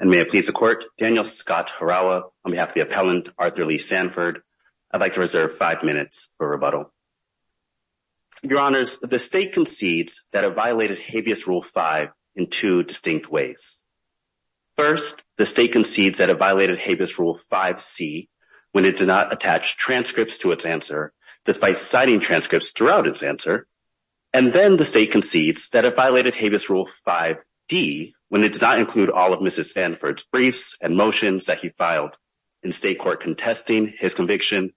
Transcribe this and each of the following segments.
and may it please the court Daniel Scott Harawa on behalf of the appellant Arthur Lee Sanford I'd like to reserve five minutes for rebuttal. Your honors the state concedes that it violated habeas rule 5 in two distinct ways. First the state concedes that it violated habeas rule 5c when it did not attach transcripts to its answer despite citing transcripts throughout its answer and then the state concedes that it violated habeas rule 5d when it did not include all of Sanford's briefs and motions that he filed in state court contesting his conviction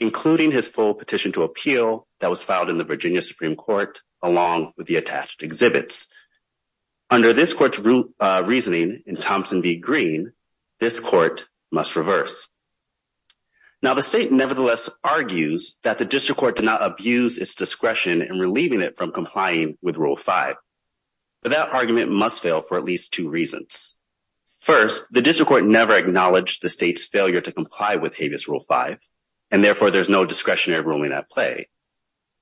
including his full petition to appeal that was filed in the Virginia Supreme Court along with the attached exhibits. Under this court's reasoning in Thompson v Green this court must reverse. Now the state nevertheless argues that the district court did not abuse its discretion in relieving it from First the district court never acknowledged the state's failure to comply with habeas rule 5 and therefore there's no discretionary ruling at play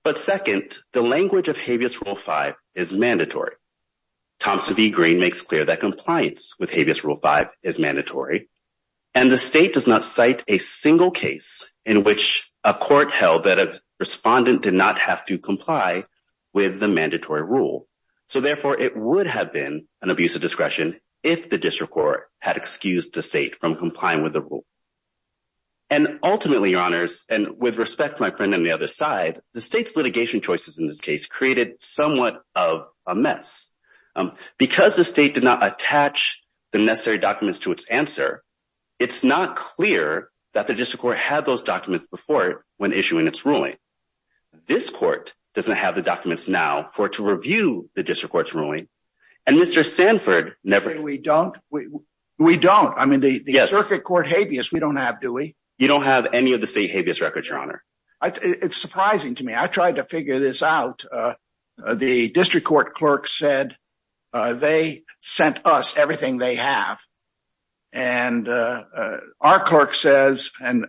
but second the language of habeas rule 5 is mandatory. Thompson v Green makes clear that compliance with habeas rule 5 is mandatory and the state does not cite a single case in which a court held that a respondent did not have to comply with the mandatory rule so therefore it would have been an abuse of discretion if the district court had excused the state from complying with the rule and ultimately your honors and with respect my friend on the other side the state's litigation choices in this case created somewhat of a mess because the state did not attach the necessary documents to its answer it's not clear that the district court had those documents before it when issuing its ruling. This court doesn't have the documents now for to review the district court's ruling and Mr Sanford never we don't we we don't I mean the the circuit court habeas we don't have do we you don't have any of the state habeas records your honor it's surprising to me I tried to figure this out the district court clerk said they sent us everything they have and our clerk says and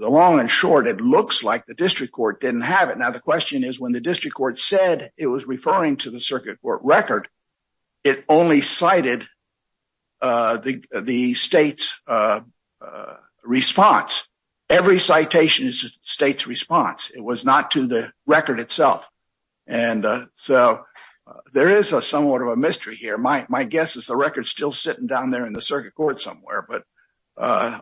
the long and short it looks like the district court didn't have it now the question is when the district court said it was referring to the circuit court record it only cited the the state's response every citation is the state's response it was not to the record itself and so there is a somewhat of a mystery here my my guess is the record still sitting down there in the circuit court somewhere but uh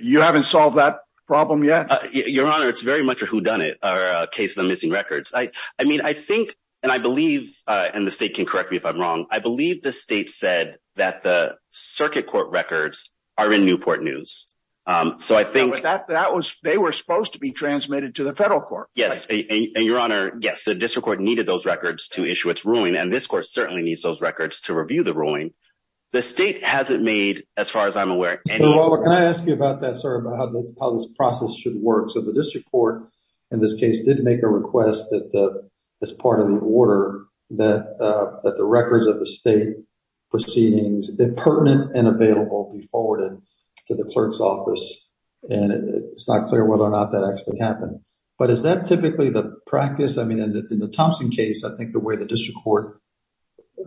you haven't solved that problem yet your honor it's very much a whodunit or a case of missing records I I mean I think and I believe uh and the state can correct me if I'm wrong I believe the state said that the circuit court records are in Newport News um so I think that that was they were supposed to be transmitted to the federal court yes and your honor yes the district court needed those records to issue its ruling and this court certainly needs those to review the ruling the state hasn't made as far as I'm aware can I ask you about that sir about how this process should work so the district court in this case did make a request that the as part of the order that uh that the records of the state proceedings that pertinent and available be forwarded to the clerk's office and it's not clear whether or not that actually happened but is that typically the practice I mean in the Thompson case I think the way the district court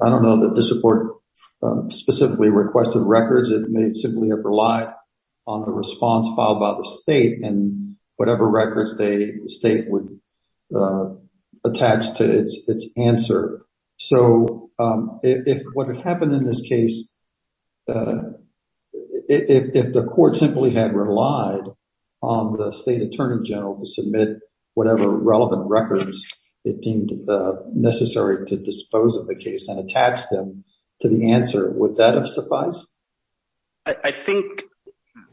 I don't know that the support specifically requested records it may simply have relied on the response filed by the state and whatever records they the state would attach to its its answer so um if what had happened in this case if the court simply had relied on the state attorney general to submit whatever relevant records it deemed necessary to dispose of the case and attach them to the answer would that have sufficed I think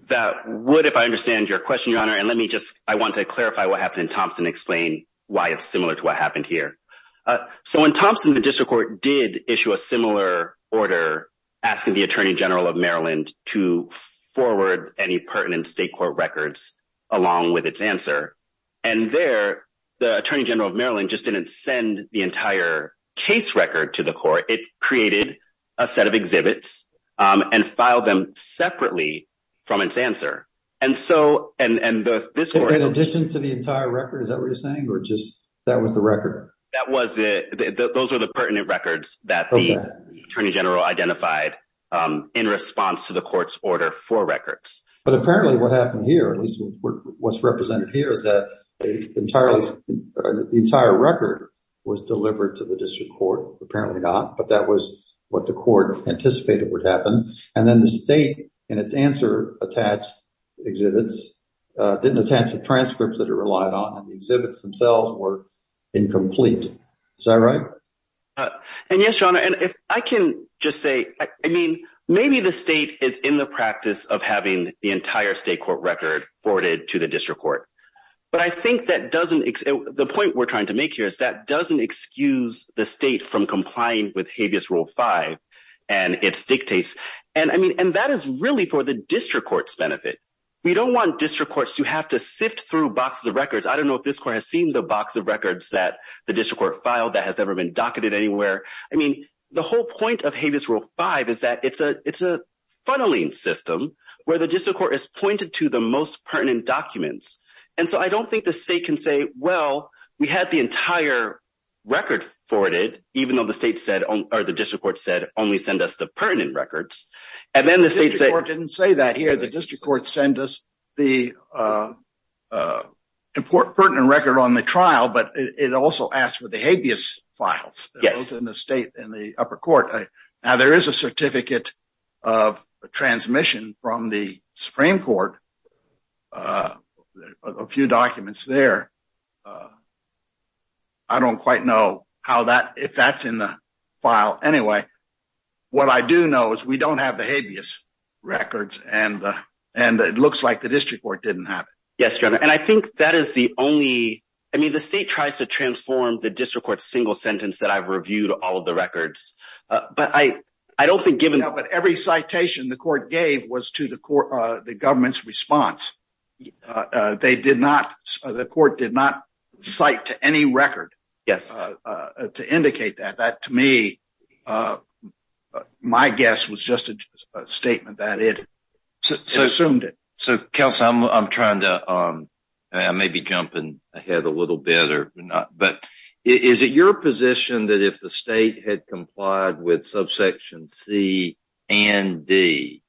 that would if I understand your question your honor and let me just I want to clarify what happened in Thompson explain why it's similar to what happened here uh so in Thompson the district court did issue a similar order asking the attorney general of Maryland to forward any pertinent state court records along with its answer and there the attorney general of Maryland just didn't send the entire case record to the court it created a set of exhibits um and filed them separately from its answer and so and and the this court in addition to the entire record is that what you're saying or just that was the record that was the those are the pertinent records that the attorney general identified um in response to the court's order for records but apparently what happened here at least what's represented here is that entirely the entire record was delivered to the district court apparently not but that was what the court anticipated would happen and then the state and its answer attached exhibits uh didn't attach the transcripts that it relied on and the exhibits themselves were incomplete is that right uh and yes your honor and if I can just say I mean maybe the state is in the practice of having the entire state court record forwarded to the district court but I think that doesn't the point we're trying to make here is that doesn't excuse the state from complying with habeas rule 5 and its dictates and I mean and that is really for the district court's benefit we don't want district courts to have to sift through boxes of records I don't know if this has seen the box of records that the district court filed that has ever been docketed anywhere I mean the whole point of habeas rule 5 is that it's a it's a funneling system where the district court is pointed to the most pertinent documents and so I don't think the state can say well we had the entire record forwarded even though the state said or the district court said only send us the pertinent records and then the state didn't say that here the district court sent us the uh uh important record on the trial but it also asked for the habeas files yes in the state in the upper court now there is a certificate of a transmission from the supreme court uh a few documents there uh I don't quite know how that if that's in the file anyway what I do know is we don't have the habeas records and uh and it looks like the district court didn't have it yes and I think that is the only I mean the state tries to transform the district court single sentence that I've reviewed all of the records uh but I I don't think given but every citation the court gave was to the court uh the government's response they did not the court did not cite to any record yes uh to indicate that that to me uh my guess was just a statement that it assumed it so council I'm trying to um I may be jumping ahead a little bit or not but is it your position that if the state had complied with subsection c and d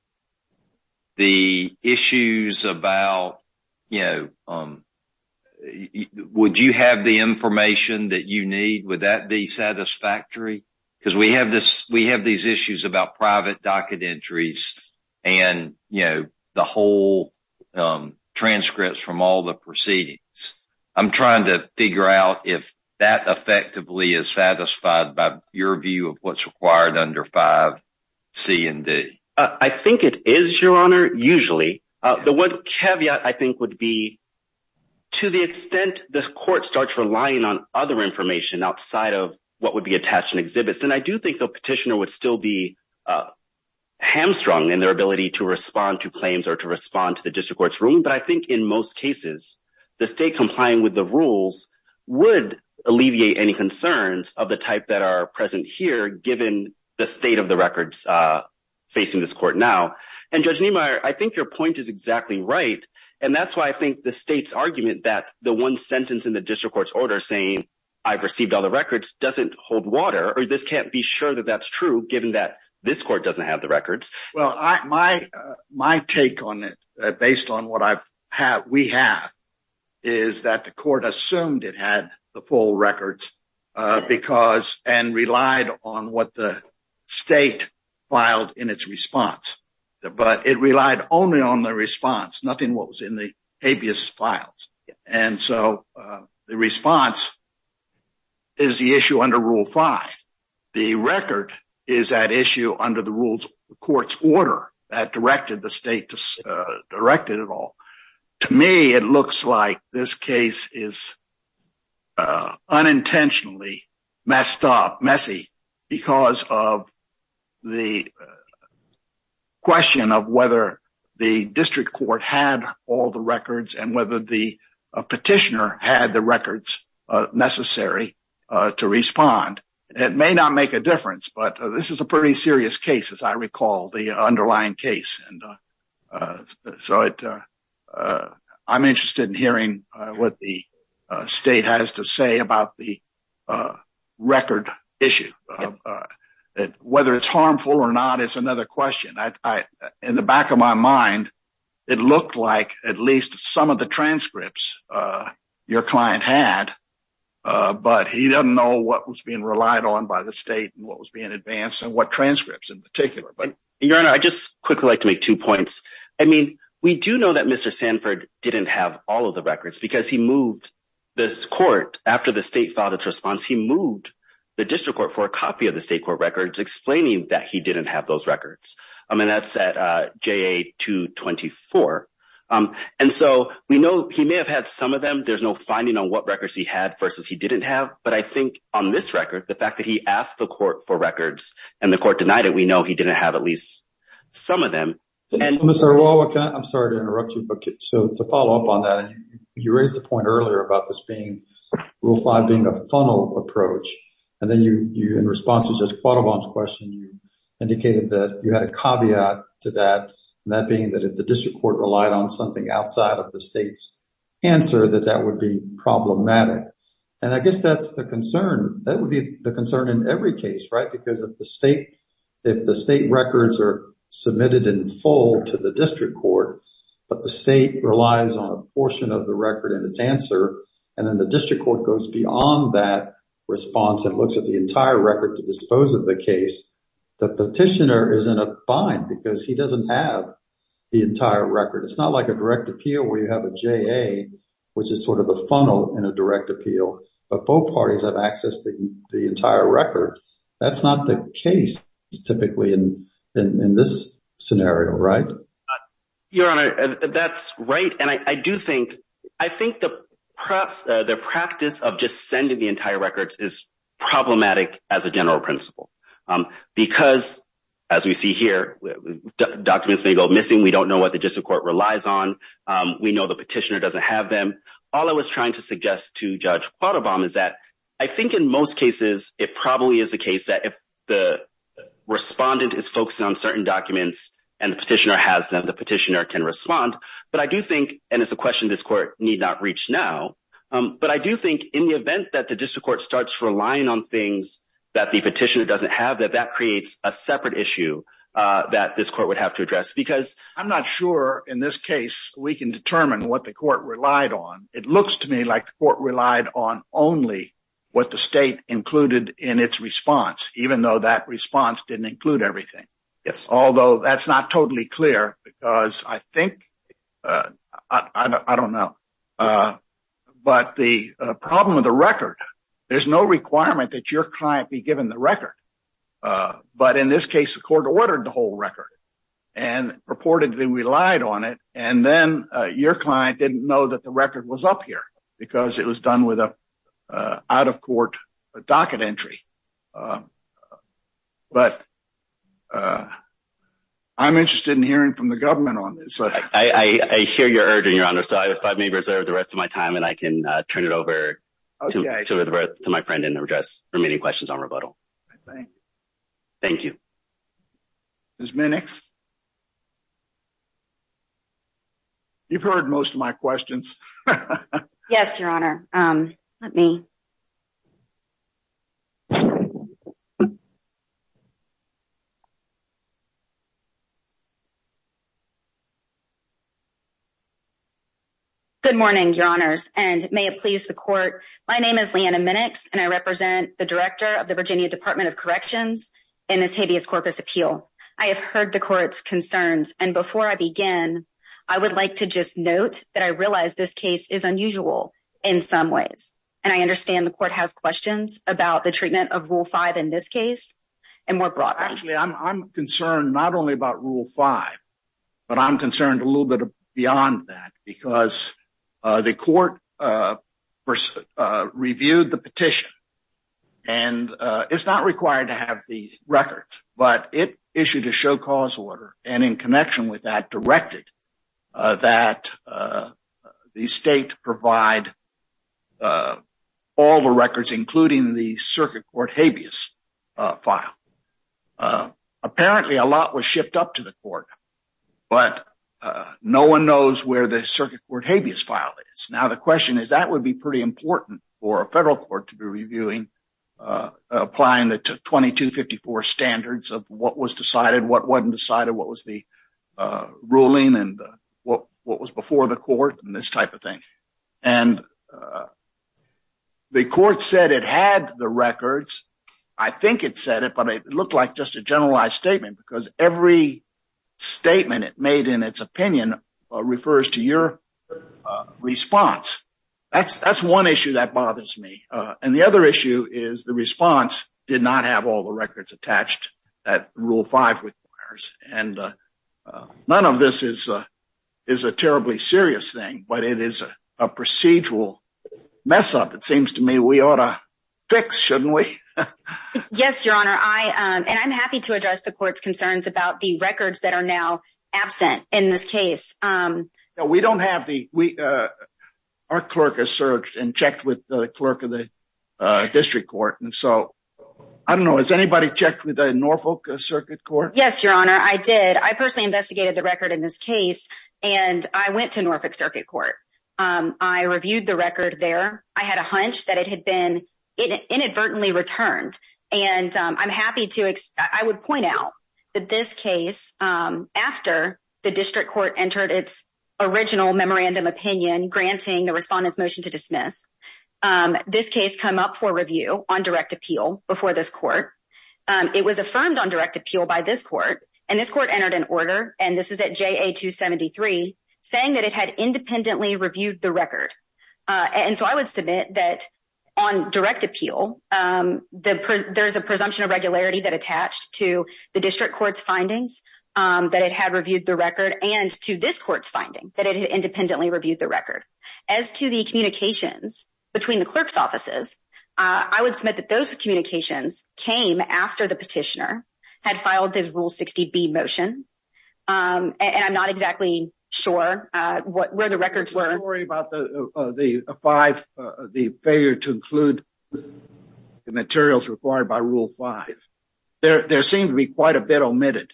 the issues about you know um would you have the information that you need would that be satisfactory because we have this we have these issues about private docket entries and you know the whole um transcripts from all the proceedings I'm trying to figure out if that effectively is satisfied by your view of what's required under five c and d I think it is your honor usually uh the one caveat I think would be to the extent the court starts relying on other information outside of what would be attached in exhibits and I do think the petitioner would still be uh hamstrung in their ability to respond to claims or to respond to the district court's ruling but I think in most cases the state complying with the rules would alleviate any concerns of the type that are present here given the state of the records uh facing this court now and judge Niemeyer I think your point is exactly right and that's why I think the state's argument that the one sentence in the district court's order saying I've received all the records doesn't hold water or this can't be sure that that's true given that this court doesn't have the records well I my my take on it based on what I've had we have is that the court assumed it had the full records uh because and relied on what the state filed in its response but it relied only on the response nothing what was in the habeas files and so the response is the issue under rule five the record is that issue under the rules court's order that directed the state to uh directed it all to me it looks like this case is uh unintentionally messed up because of the question of whether the district court had all the records and whether the petitioner had the records uh necessary uh to respond it may not make a difference but this is a pretty serious case as I recall the underlying case and uh so it uh I'm interested in hearing uh what the uh state has to say about the uh record issue uh that whether it's harmful or not it's another question I in the back of my mind it looked like at least some of the transcripts uh your client had uh but he doesn't know what was being relied on by the state and what was being advanced and what transcripts in particular but your honor I just quickly like to make two points I mean we do know that Mr Sanford didn't have all of the records because he moved this court after the state filed its response he moved the district court for a copy of the state court records explaining that he didn't have those records I mean that's at uh JA 224 um and so we know he may have had some of them there's no finding on what records he had versus he didn't have but I think on this record the fact that he asked the court for records and the court denied it we know he didn't have at least some of them and Mr. I'm sorry to interrupt you but so to follow up on that and you raised the point earlier about this being rule five being a funnel approach and then you you in response to Judge Quattlebaum's question you indicated that you had a caveat to that and that being that if the district court relied on something outside of the state's answer that that would be problematic and I guess that's the concern that would be the concern in every case right because if the state if the state records are submitted in full to the district court but the state relies on a portion of the record in its answer and then the district court goes beyond that response and looks at the entire record to dispose of the case the petitioner is in a bind because he doesn't have the entire record it's not like a direct appeal where you have a JA which is sort of a funnel in a direct appeal but both parties have access the the that's not the case typically in in this scenario right your honor that's right and I do think I think the press the practice of just sending the entire records is problematic as a general principle because as we see here documents may go missing we don't know what the district court relies on we know the petitioner doesn't have them all I was trying to suggest to Judge Quattlebaum is that I think in most cases it probably is the case that if the respondent is focusing on certain documents and the petitioner has them the petitioner can respond but I do think and it's a question this court need not reach now but I do think in the event that the district court starts relying on things that the petitioner doesn't have that that creates a separate issue that this court would have to address because I'm not sure in this case we can determine what the court relied on only what the state included in its response even though that response didn't include everything yes although that's not totally clear because I think I don't know but the problem of the record there's no requirement that your client be given the record but in this case the court ordered the whole record and reportedly relied on it and then your client didn't know that the record was up here because it was done with a out-of-court docket entry but I'm interested in hearing from the government on this I hear your urging your honor so if I may reserve the rest of my time and I can turn it over to my friend and address remaining questions on rebuttal I think thank you Ms. Minnix you've heard most of my questions yes your honor um let me good morning your honors and may it please the court my name is Leanna Minnix and I represent the director of the Virginia Department of Corrections in this habeas corpus appeal I have heard the court's concerns and before I begin I would like to just note that I realize this case is unusual in some ways and I understand the court has questions about the treatment of rule five in this case and more broadly actually I'm concerned not only about rule five but I'm concerned a the court reviewed the petition and it's not required to have the record but it issued a show cause order and in connection with that directed that the state provide all the records including the circuit court habeas file apparently a lot was shipped up to the court but no one knows where the circuit court habeas file is now the question is that would be pretty important for a federal court to be reviewing uh applying the 2254 standards of what was decided what wasn't decided what was the uh ruling and what what was before the court and this type of thing and uh the court said it had the records I think it said it but it looked like just a statement it made in its opinion uh refers to your uh response that's that's one issue that bothers me uh and the other issue is the response did not have all the records attached that rule five requires and uh none of this is uh is a terribly serious thing but it is a procedural mess up it seems to me we ought to fix shouldn't we yes your honor I um and I'm happy to address the court's concerns about the records that are now absent in this case um no we don't have the we uh our clerk has searched and checked with the clerk of the uh district court and so I don't know has anybody checked with the Norfolk circuit court yes your honor I did I personally investigated the record in this case and I went to Norfolk circuit court um I reviewed the record there I had a hunch that it had been inadvertently returned and I'm happy to I would point out that this case um after the district court entered its original memorandum opinion granting the respondent's motion to dismiss um this case come up for review on direct appeal before this court um it was affirmed on direct appeal by this court and this court entered an order and this is at JA 273 saying that it had independently reviewed the record uh and so I would submit that on direct appeal um the there's a presumption of regularity that attached to the district court's findings um that it had reviewed the record and to this court's finding that it independently reviewed the record as to the communications between the clerk's offices uh I would submit that those communications came after the petitioner had filed his rule 60b motion um and I'm not exactly sure uh what where the records were worried about the uh the five uh the failure to include the materials required by rule five there there seemed to be quite a bit omitted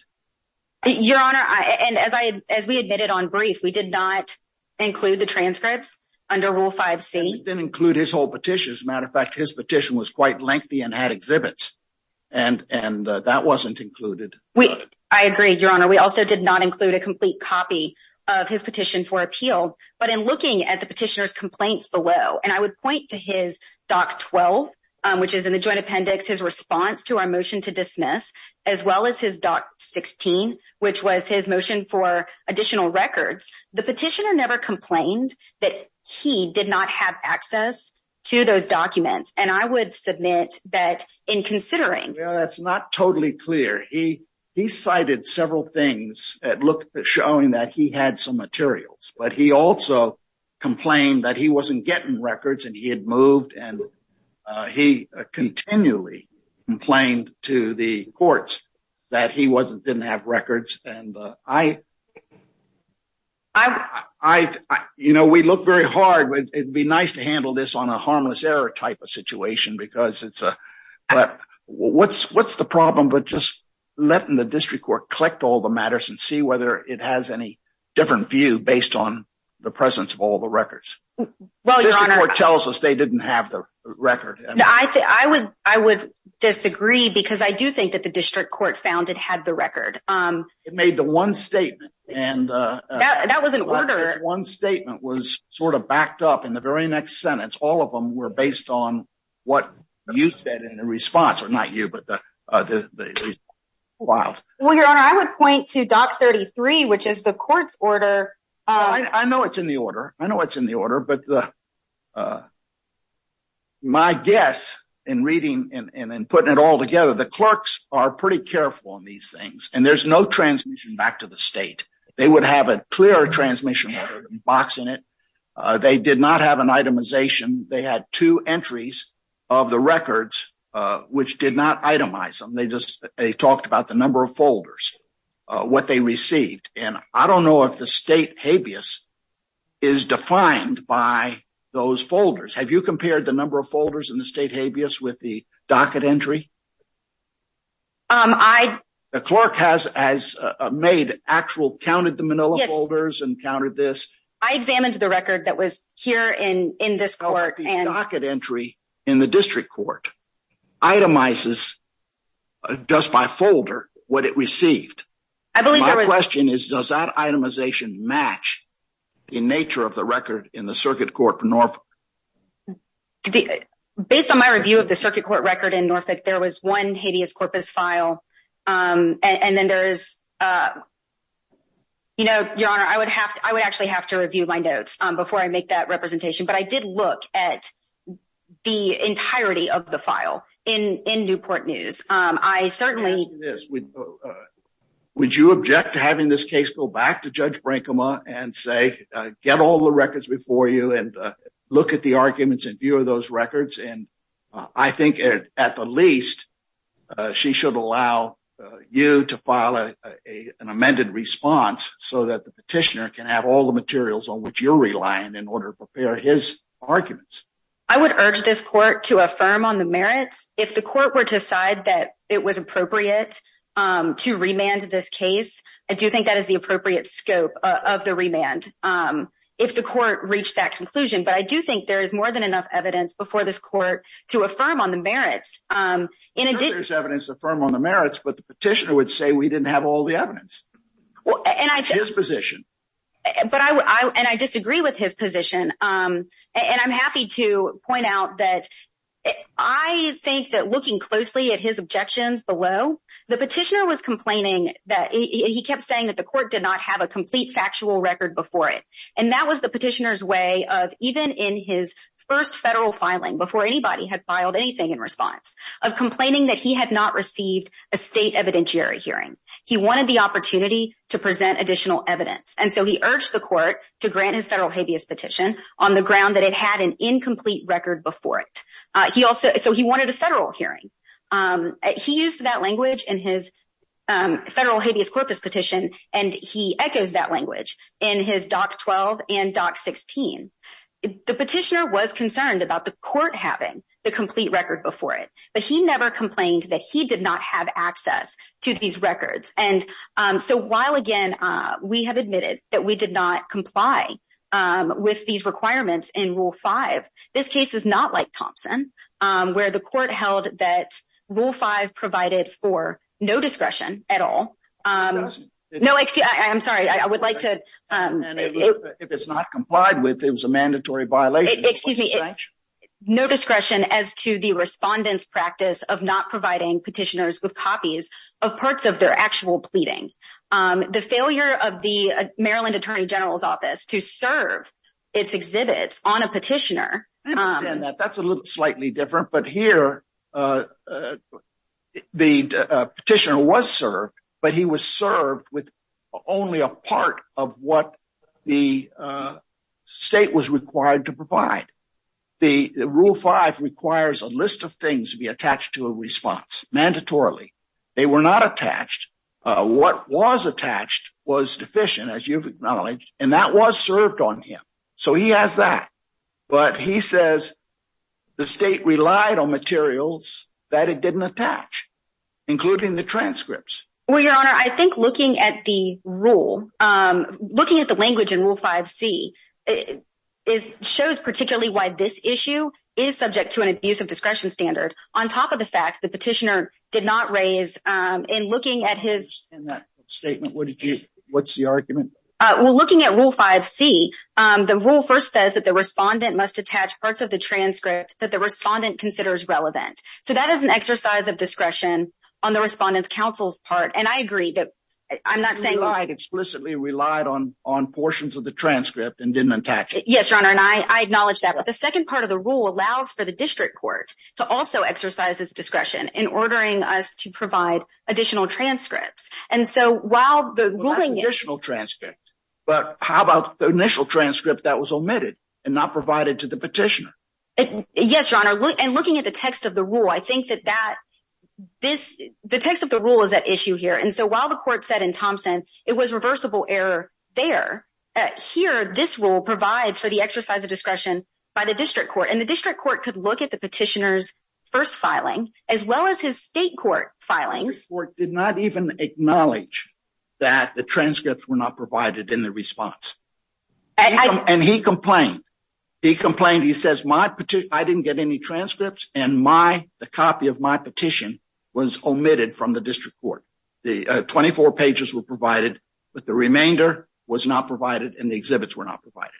your honor I and as I as we admitted on brief we did not include the transcripts under rule 5c didn't include his whole petition as a matter of fact his petition was quite lengthy and had exhibits and and that wasn't included we I agreed your honor we also did not include a complete copy of his petition for appeal but in looking at the petitioner's complaints below and I would point to his doc 12 which is in the joint appendix his response to our motion to dismiss as well as his doc 16 which was his motion for additional records the petitioner never complained that he did not have access to those documents and I would submit that in considering well that's not totally clear he he cited several things that looked at showing that he had some materials but he also complained that he wasn't getting records and he had moved and he continually complained to the courts that he wasn't didn't have records and I I you know we look very hard it'd be nice to handle this on a harmless error type of situation because it's a but what's what's the problem but just letting the district court collect all the matters and see whether it has any different view based on the presence of all the records well your honor tells us they didn't have the record I think I would I would disagree because I do think that the district court found it had the record um it made the one statement and uh that was an order one statement was sort of backed up in the very next sentence all of them were based on what you said in the response or not you but the uh the wild well your honor I would point to doc 33 which is the court's order I know it's in the order I know it's in the order but uh my guess in reading and and then putting it all together the clerks are pretty careful and there's no transmission back to the state they would have a clear transmission box in it they did not have an itemization they had two entries of the records which did not itemize them they just they talked about the number of folders what they received and I don't know if the state habeas is defined by those folders have you compared the number of folders in the state with the docket entry um I the clerk has has made actual counted the manila folders and counted this I examined the record that was here in in this court and docket entry in the district court itemizes just by folder what it received I believe my question is does that itemization match in nature of the record in the circuit court for Norfolk based on my review of the circuit court record in Norfolk there was one habeas corpus file um and then there is uh you know your honor I would have to I would actually have to review my notes um before I make that representation but I did look at the entirety of the file in in Newport News um I certainly this would would you object to having this case go back to judge Brinkman and say get all the records before you and look at the arguments and view of those records and I think at the least she should allow you to file a an amended response so that the petitioner can have all the materials on which you're relying in order to prepare his arguments I would urge this court to affirm on the merits if the court were to decide that it was appropriate um to remand this case I do think that is the appropriate scope of the remand um if the court reached that conclusion but I do think there is more than enough evidence before this court to affirm on the merits um in addition there's evidence to affirm on the merits but the petitioner would say we didn't have all the evidence and I think his position but I would I and I disagree with his position um and I'm happy to point out that I think that looking closely at his objections below the petitioner was complaining that he kept saying that the court did not have a complete factual record before it and that was the petitioner's way of even in his first federal filing before anybody had filed anything in response of complaining that he had not received a state evidentiary hearing he wanted the opportunity to present additional evidence and so he urged the court to grant his federal habeas petition on the ground that it had an he used that language in his um federal habeas corpus petition and he echoes that language in his doc 12 and doc 16 the petitioner was concerned about the court having the complete record before it but he never complained that he did not have access to these records and um so while again uh we have admitted that we did not comply um with these requirements in rule 5 this case is not like provided for no discretion at all um no excuse i'm sorry i would like to um if it's not complied with it was a mandatory violation excuse me no discretion as to the respondent's practice of not providing petitioners with copies of parts of their actual pleading um the failure of the maryland attorney general's office to serve its exhibits on a petitioner that's a little different but here uh the petitioner was served but he was served with only a part of what the state was required to provide the rule 5 requires a list of things to be attached to a response mandatorily they were not attached uh what was attached was deficient as you've acknowledged and that was served on him so he has that but he says the state relied on materials that it didn't attach including the transcripts well your honor i think looking at the rule um looking at the language in rule 5c is shows particularly why this issue is subject to an abuse of discretion standard on top of the fact the petitioner did not raise um in looking at his statement what did you what's the argument uh well looking at rule 5c um the rule first says that the respondent must attach parts of the transcript that the respondent considers relevant so that is an exercise of discretion on the respondent's counsel's part and i agree that i'm not saying i explicitly relied on on portions of the transcript and didn't attach it yes your honor and i i acknowledge that but the second part of the rule allows for the district court to also exercise its discretion in ordering us to provide additional transcripts and so while the ruling additional transcript but how about the initial transcript that was omitted and not provided to the petitioner yes your honor and looking at the text of the rule i think that that this the text of the rule is at issue here and so while the court said in thompson it was reversible error there here this rule provides for the exercise of discretion by the district court the district court could look at the petitioner's first filing as well as his state court filings court did not even acknowledge that the transcripts were not provided in the response and he complained he complained he says my petition i didn't get any transcripts and my the copy of my petition was omitted from the district court the 24 pages were provided but the remainder was not provided and the exhibits were not provided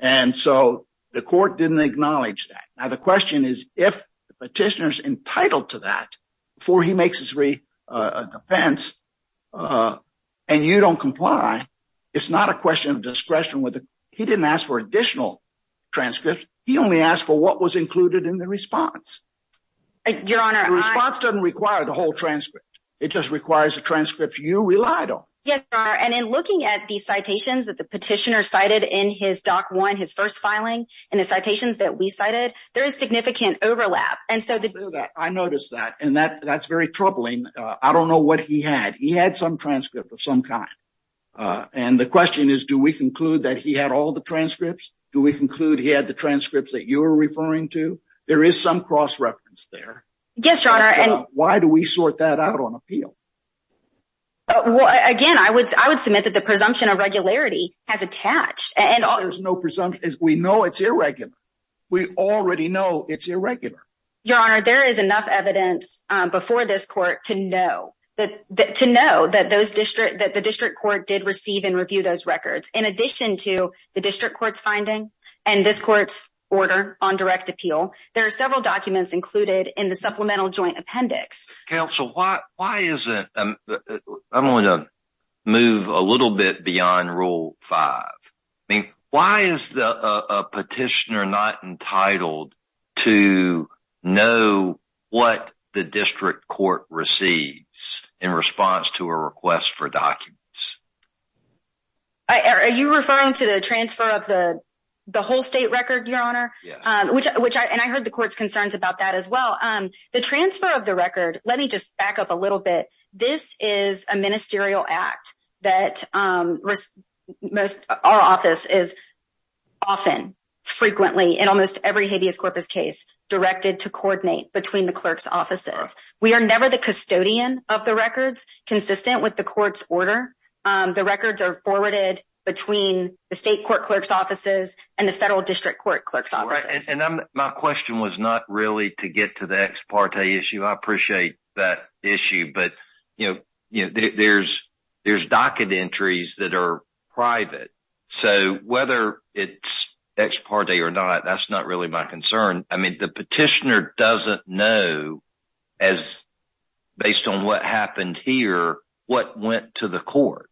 and so the court didn't acknowledge that now the question is if the petitioner's entitled to that before he makes his defense uh and you don't comply it's not a question of discretion whether he didn't ask for additional transcripts he only asked for what was included in the response your honor the response doesn't require the whole transcript it just requires the transcripts you relied on yes your honor and in looking at these citations that the petitioner cited in his doc one his first filing and the citations that we cited there is significant overlap and so that i noticed that and that that's very troubling uh i don't know what he had he had some transcript of some kind uh and the question is do we conclude that he had all the transcripts do we conclude he had the transcripts that you were referring to there is some cross reference there yes your honor and why do we sort that out on appeal well again i would i would submit that the presumption of regularity has it's irregular we already know it's irregular your honor there is enough evidence before this court to know that to know that those district that the district court did receive and review those records in addition to the district court's finding and this court's order on direct appeal there are several documents included in the supplemental joint appendix council why why is it i'm going to move a little bit beyond rule five i mean why is the a petitioner not entitled to know what the district court receives in response to a request for documents i are you referring to the transfer of the the whole state record your honor which which i and i heard the court's concerns about that as well um the transfer of the record let me just back up a is a ministerial act that um most our office is often frequently in almost every habeas corpus case directed to coordinate between the clerk's offices we are never the custodian of the records consistent with the court's order um the records are forwarded between the state court clerk's offices and the federal district court clerk's offices and i'm my question was not really to you there's there's docket entries that are private so whether it's ex parte or not that's not really my concern i mean the petitioner doesn't know as based on what happened here what went to the court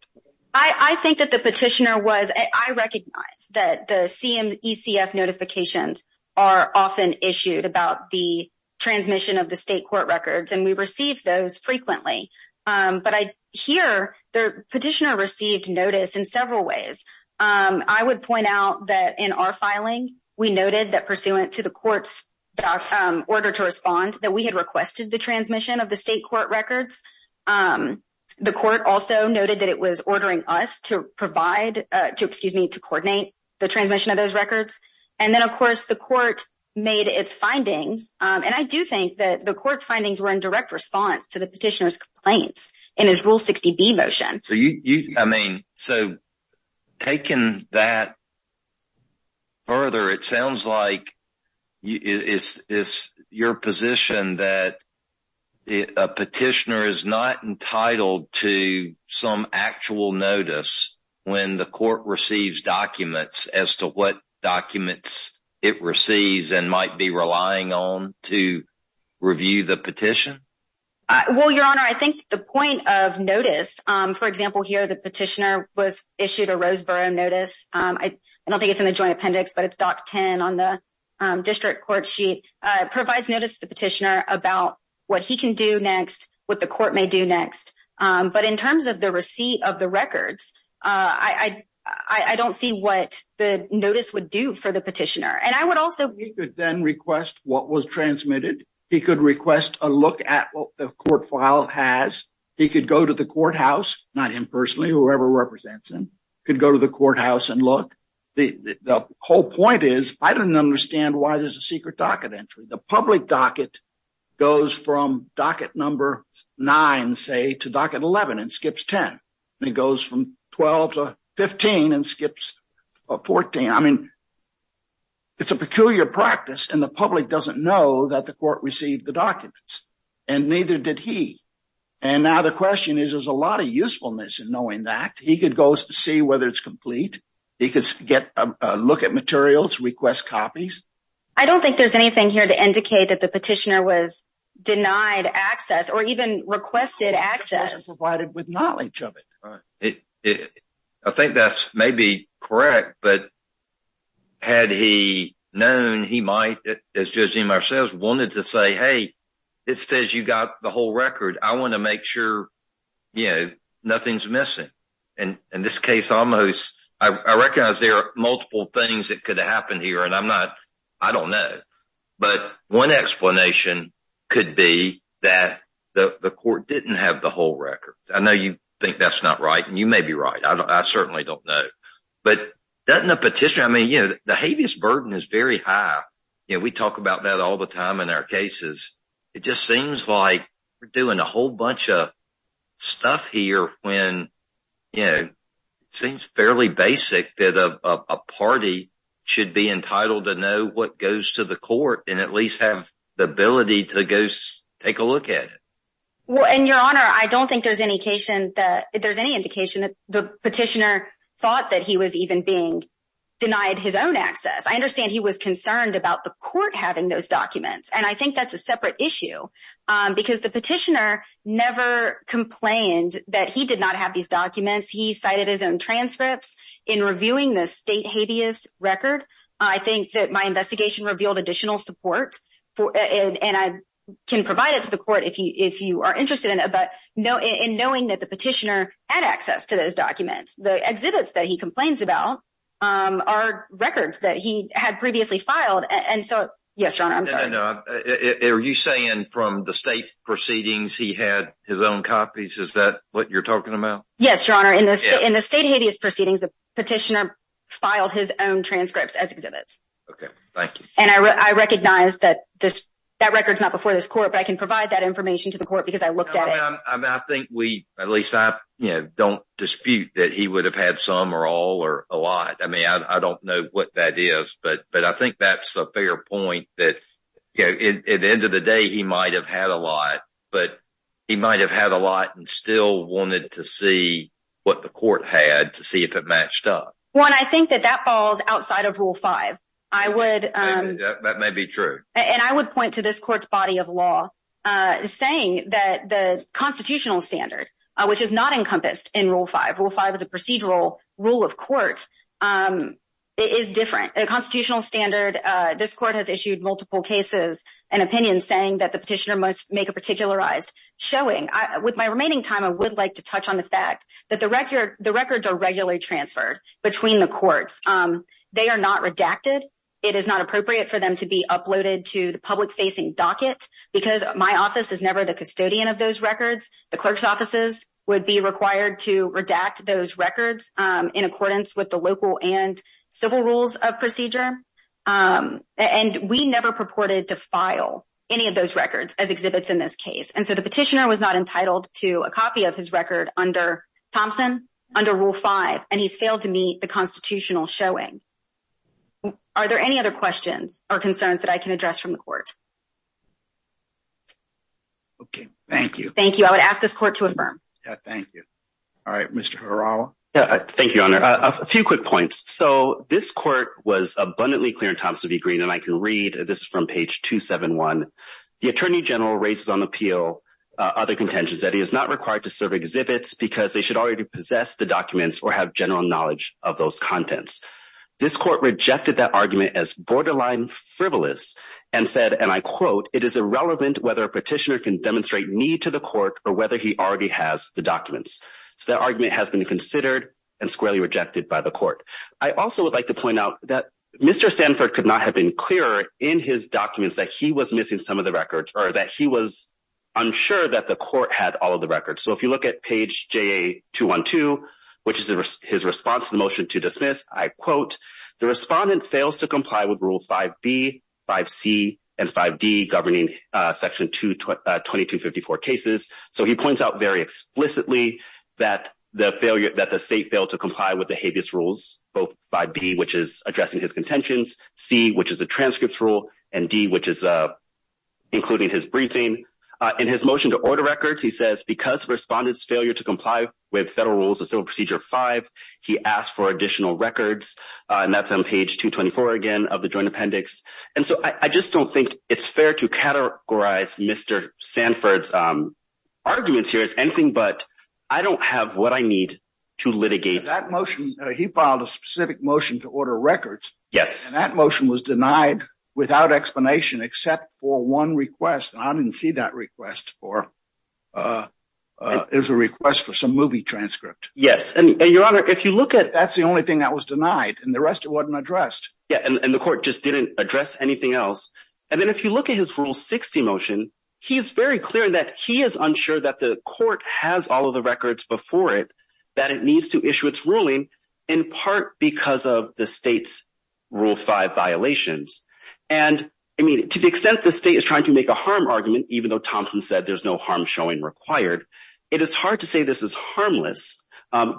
i i think that the petitioner was i recognize that the cm ecf notifications are often issued about the transmission of the state court records and receive those frequently but i hear the petitioner received notice in several ways i would point out that in our filing we noted that pursuant to the court's order to respond that we had requested the transmission of the state court records the court also noted that it was ordering us to provide to excuse me to coordinate the transmission of those records and then of course the court made its findings and i do think that the court's findings were in direct response to the petitioner's complaints in his rule 60b motion so you i mean so taking that further it sounds like it's it's your position that a petitioner is not entitled to some actual notice when the court receives documents as to what petition well your honor i think the point of notice um for example here the petitioner was issued a roseboro notice um i don't think it's in the joint appendix but it's doc 10 on the district court sheet uh provides notice to the petitioner about what he can do next what the court may do next um but in terms of the receipt of the records uh i i i don't see what the notice would do for the petitioner and i would also he could then request what was transmitted he could request a look at what the court file has he could go to the courthouse not him personally whoever represents him could go to the courthouse and look the the whole point is i didn't understand why there's a secret docket entry the public docket goes from docket number nine say to docket 11 and skips 10 and it goes from 12 to 15 and skips 14 i mean it's a peculiar practice and the court received the documents and neither did he and now the question is there's a lot of usefulness in knowing that he could go see whether it's complete he could get a look at materials request copies i don't think there's anything here to indicate that the petitioner was denied access or even requested access provided with knowledge of it right it i think that's maybe correct but had he known he might as judging myself wanted to say hey it says you got the whole record i want to make sure you know nothing's missing and in this case almost i recognize there are multiple things that could happen here and i'm not i don't know but one explanation could be that the the court didn't have the whole record i know you think that's not right and you may be right i mean you know the heaviest burden is very high you know we talk about that all the time in our cases it just seems like we're doing a whole bunch of stuff here when you know it seems fairly basic that a party should be entitled to know what goes to the court and at least have the ability to go take a look at it well and your honor i don't think there's any occasion that there's any the petitioner thought that he was even being denied his own access i understand he was concerned about the court having those documents and i think that's a separate issue because the petitioner never complained that he did not have these documents he cited his own transcripts in reviewing the state habeas record i think that my investigation revealed additional support for and i can provide it to the court if you if you are interested in it but no in knowing that the petitioner had access to those documents the exhibits that he complains about um are records that he had previously filed and so yes your honor i'm sorry no are you saying from the state proceedings he had his own copies is that what you're talking about yes your honor in this in the state habeas proceedings the petitioner filed his own transcripts as exhibits okay thank you and i i recognize that this that record's not before this court but i can provide that information to the court because i looked at it i think we at least i you know don't dispute that he would have had some or all or a lot i mean i don't know what that is but but i think that's a fair point that you know at the end of the day he might have had a lot but he might have had a lot and still wanted to see what the court had to see if it matched up one i think that that falls outside of rule five i would um that may be true and i would point to this court's body of law uh saying that the constitutional standard which is not encompassed in rule five rule five is a procedural rule of court um it is different a constitutional standard uh this court has issued multiple cases and opinions saying that the petitioner must make a particularized showing i with my remaining time i would like to touch on the fact that the record the records are regularly transferred between the courts um they are not redacted it is not appropriate for them to be my office is never the custodian of those records the clerk's offices would be required to redact those records um in accordance with the local and civil rules of procedure um and we never purported to file any of those records as exhibits in this case and so the petitioner was not entitled to a copy of his record under thompson under rule five and he's failed to meet the constitutional showing are there any other questions or concerns that i can address from the court okay thank you thank you i would ask this court to affirm yeah thank you all right mr harawa yeah thank you honor a few quick points so this court was abundantly clear in terms of the green and i can read this from page 271 the attorney general raises on appeal other contentions that he is not required to serve exhibits because they should already possess the documents or have general knowledge of those contents this court rejected that argument as borderline frivolous and said and i quote it is irrelevant whether a petitioner can demonstrate need to the court or whether he already has the documents so that argument has been considered and squarely rejected by the court i also would like to point out that mr sanford could not have been clearer in his documents that he was missing some of the records or that he was unsure that the court had all of the records so if you look at page ja212 which is his response to the motion to dismiss i quote the respondent fails to comply with rule 5b 5c and 5d governing uh section 22 2254 cases so he points out very explicitly that the failure that the state failed to comply with the habeas rules both by b which is addressing his contentions c which is a transcripts rule and d which is uh including his briefing uh in his motion to order records he says because respondents failure to and that's on page 224 again of the joint appendix and so i i just don't think it's fair to categorize mr sanford's um arguments here is anything but i don't have what i need to litigate that motion he filed a specific motion to order records yes and that motion was denied without explanation except for one request i didn't see that request for uh uh it was a request for some movie transcript yes and your honor if you look at that's the only thing that was denied and the rest it wasn't addressed yeah and the court just didn't address anything else and then if you look at his rule 60 motion he's very clear that he is unsure that the court has all of the records before it that it needs to issue its ruling in part because of the state's rule 5 violations and i mean to the extent the state is trying to make a harm argument even though thompson said there's no harm showing required it is hard to say this is harmless um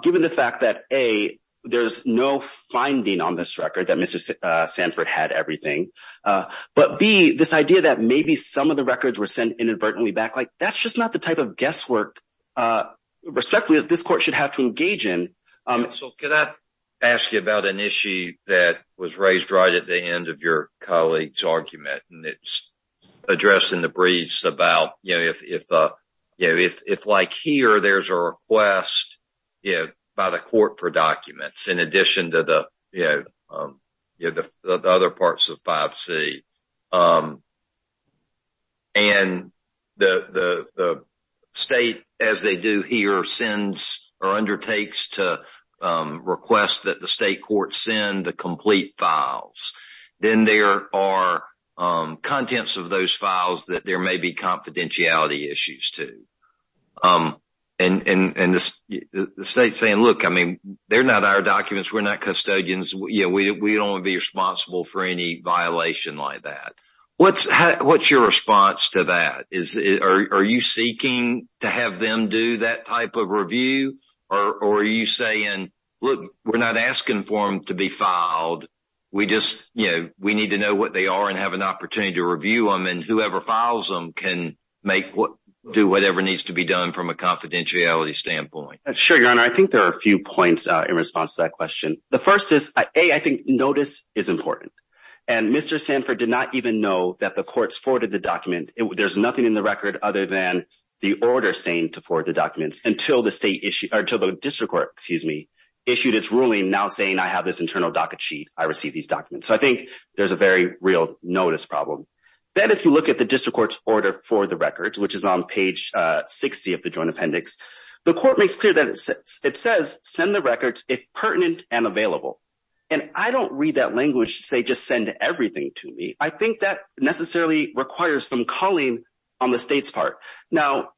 there's no finding on this record that mr uh sanford had everything uh but b this idea that maybe some of the records were sent inadvertently back like that's just not the type of guesswork uh respectfully that this court should have to engage in um so could i ask you about an issue that was raised right at the end of your colleague's argument and it's addressed in the about you know if if uh you know if if like here there's a request you know by the court for documents in addition to the you know um you know the other parts of 5c um and the the the state as they do here sends or undertakes to um request that the state court send the complete files then there are um contents of those files that there may be confidentiality issues too um and and and the state's saying look i mean they're not our documents we're not custodians you know we don't want to be responsible for any violation like that what's how what's your response to that is are you seeking to have them do that type of review or are you saying look we're not asking for them to be filed we just you know we need to know what they are and have an opportunity to review them and whoever files them can make what do whatever needs to be done from a confidentiality standpoint sure your honor i think there are a few points uh in response to that question the first is a i think notice is important and mr sanford did not even know that the courts forwarded the document there's nothing in the record other than the order saying to ruling now saying i have this internal docket sheet i receive these documents so i think there's a very real notice problem then if you look at the district court's order for the records which is on page uh 60 of the joint appendix the court makes clear that it says it says send the records if pertinent and available and i don't read that language to say just send everything to me i think that necessarily requires some calling on the state's part now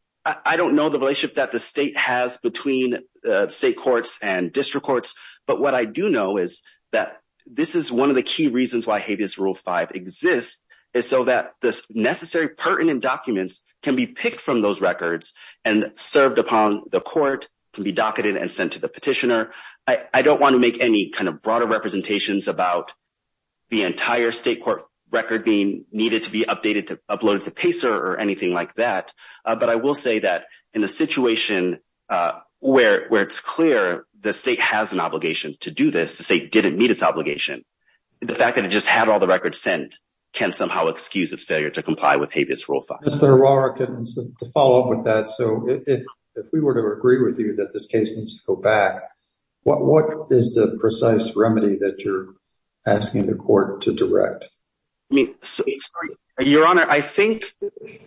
i don't know the relationship that the state has between uh state courts and district courts but what i do know is that this is one of the key reasons why habeas rule 5 exists is so that the necessary pertinent documents can be picked from those records and served upon the court can be docketed and sent to the petitioner i i don't want to make any kind of broader representations about the entire state court record being needed to be updated to upload to pacer or anything like that but i will say that in a situation uh where where it's clear the state has an obligation to do this the state didn't meet its obligation the fact that it just had all the records sent can somehow excuse its failure to comply with habeas rule 5 mr aurora can to follow up with that so if if we were to agree with you that this case needs to go back what what is the precise remedy that you're asking the court to direct i mean your honor i think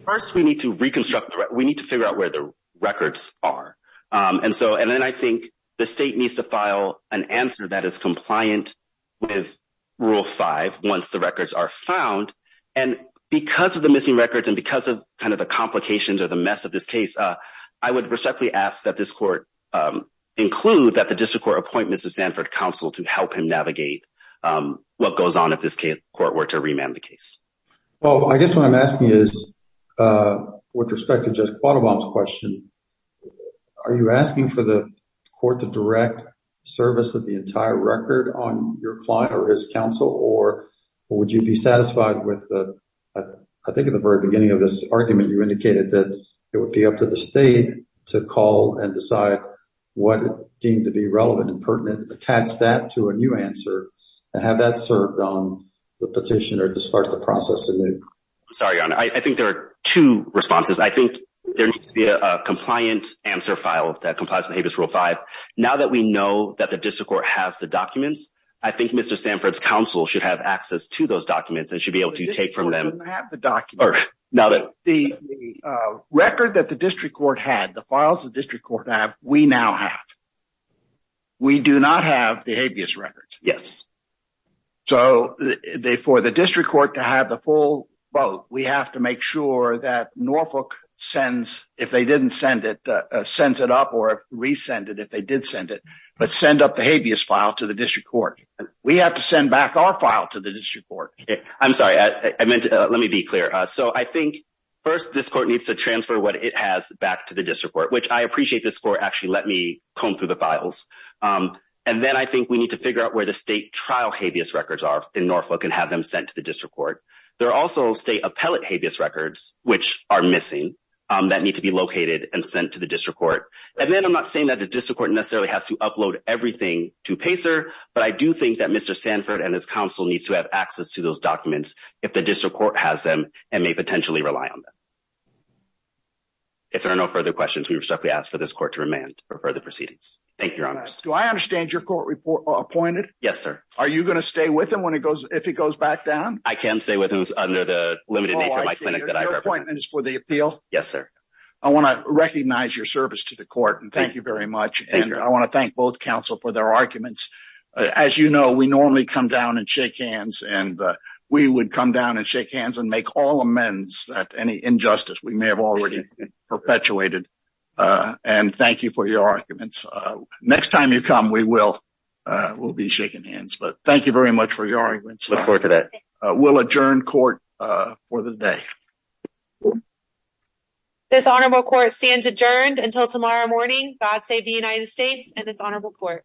first we need to reconstruct the right we need to figure out where the records are um and so and then i think the state needs to file an answer that is compliant with rule 5 once the records are found and because of the missing records and because of kind of the complications or the mess of this case uh i would respectfully ask that this court um include that the district court appointments of sanford council to help him navigate um what goes on if this case court were to remand the case well i guess what i'm asking is uh with respect to just question are you asking for the court to direct service of the entire record on your client or his counsel or would you be satisfied with the i think at the very beginning of this argument you indicated that it would be up to the state to call and decide what deemed to be relevant and pertinent attach that to a new answer and have that served on the petitioner to start the process sorry your honor i think there are two responses i think there needs to be a compliant answer file that complies with habeas rule 5 now that we know that the district court has the documents i think mr sanford's council should have access to those documents and should be able to take from them have the document or now that the uh record that the district court had the files of district court have we now have we do not have the habeas records yes so the for the district court to have the full vote we have to make sure that norfolk sends if they didn't send it uh sends it up or resend it if they did send it but send up the habeas file to the district court we have to send back our file to the district court i'm sorry i meant let me be clear uh so i think first this court needs to transfer what it has back to the district court which i appreciate this court actually let me comb through the files um and then i think we need to figure out where the trial habeas records are in norfolk and have them sent to the district court there are also state appellate habeas records which are missing um that need to be located and sent to the district court and then i'm not saying that the district court necessarily has to upload everything to pacer but i do think that mr sanford and his council needs to have access to those documents if the district court has them and may potentially rely on them if there are no further questions we respectfully ask for this court to remand for further are you going to stay with him when it goes if he goes back down i can stay with him under the limited nature of my clinic that i've appointed is for the appeal yes sir i want to recognize your service to the court and thank you very much and i want to thank both council for their arguments as you know we normally come down and shake hands and we would come down and shake hands and make all amends that any injustice we may have already perpetuated uh and thank you for your arguments uh next time you come we will uh we'll be shaking hands but thank you very much for your arguments before today we'll adjourn court uh for the day this honorable court stands adjourned until tomorrow morning god save the united states and its honorable court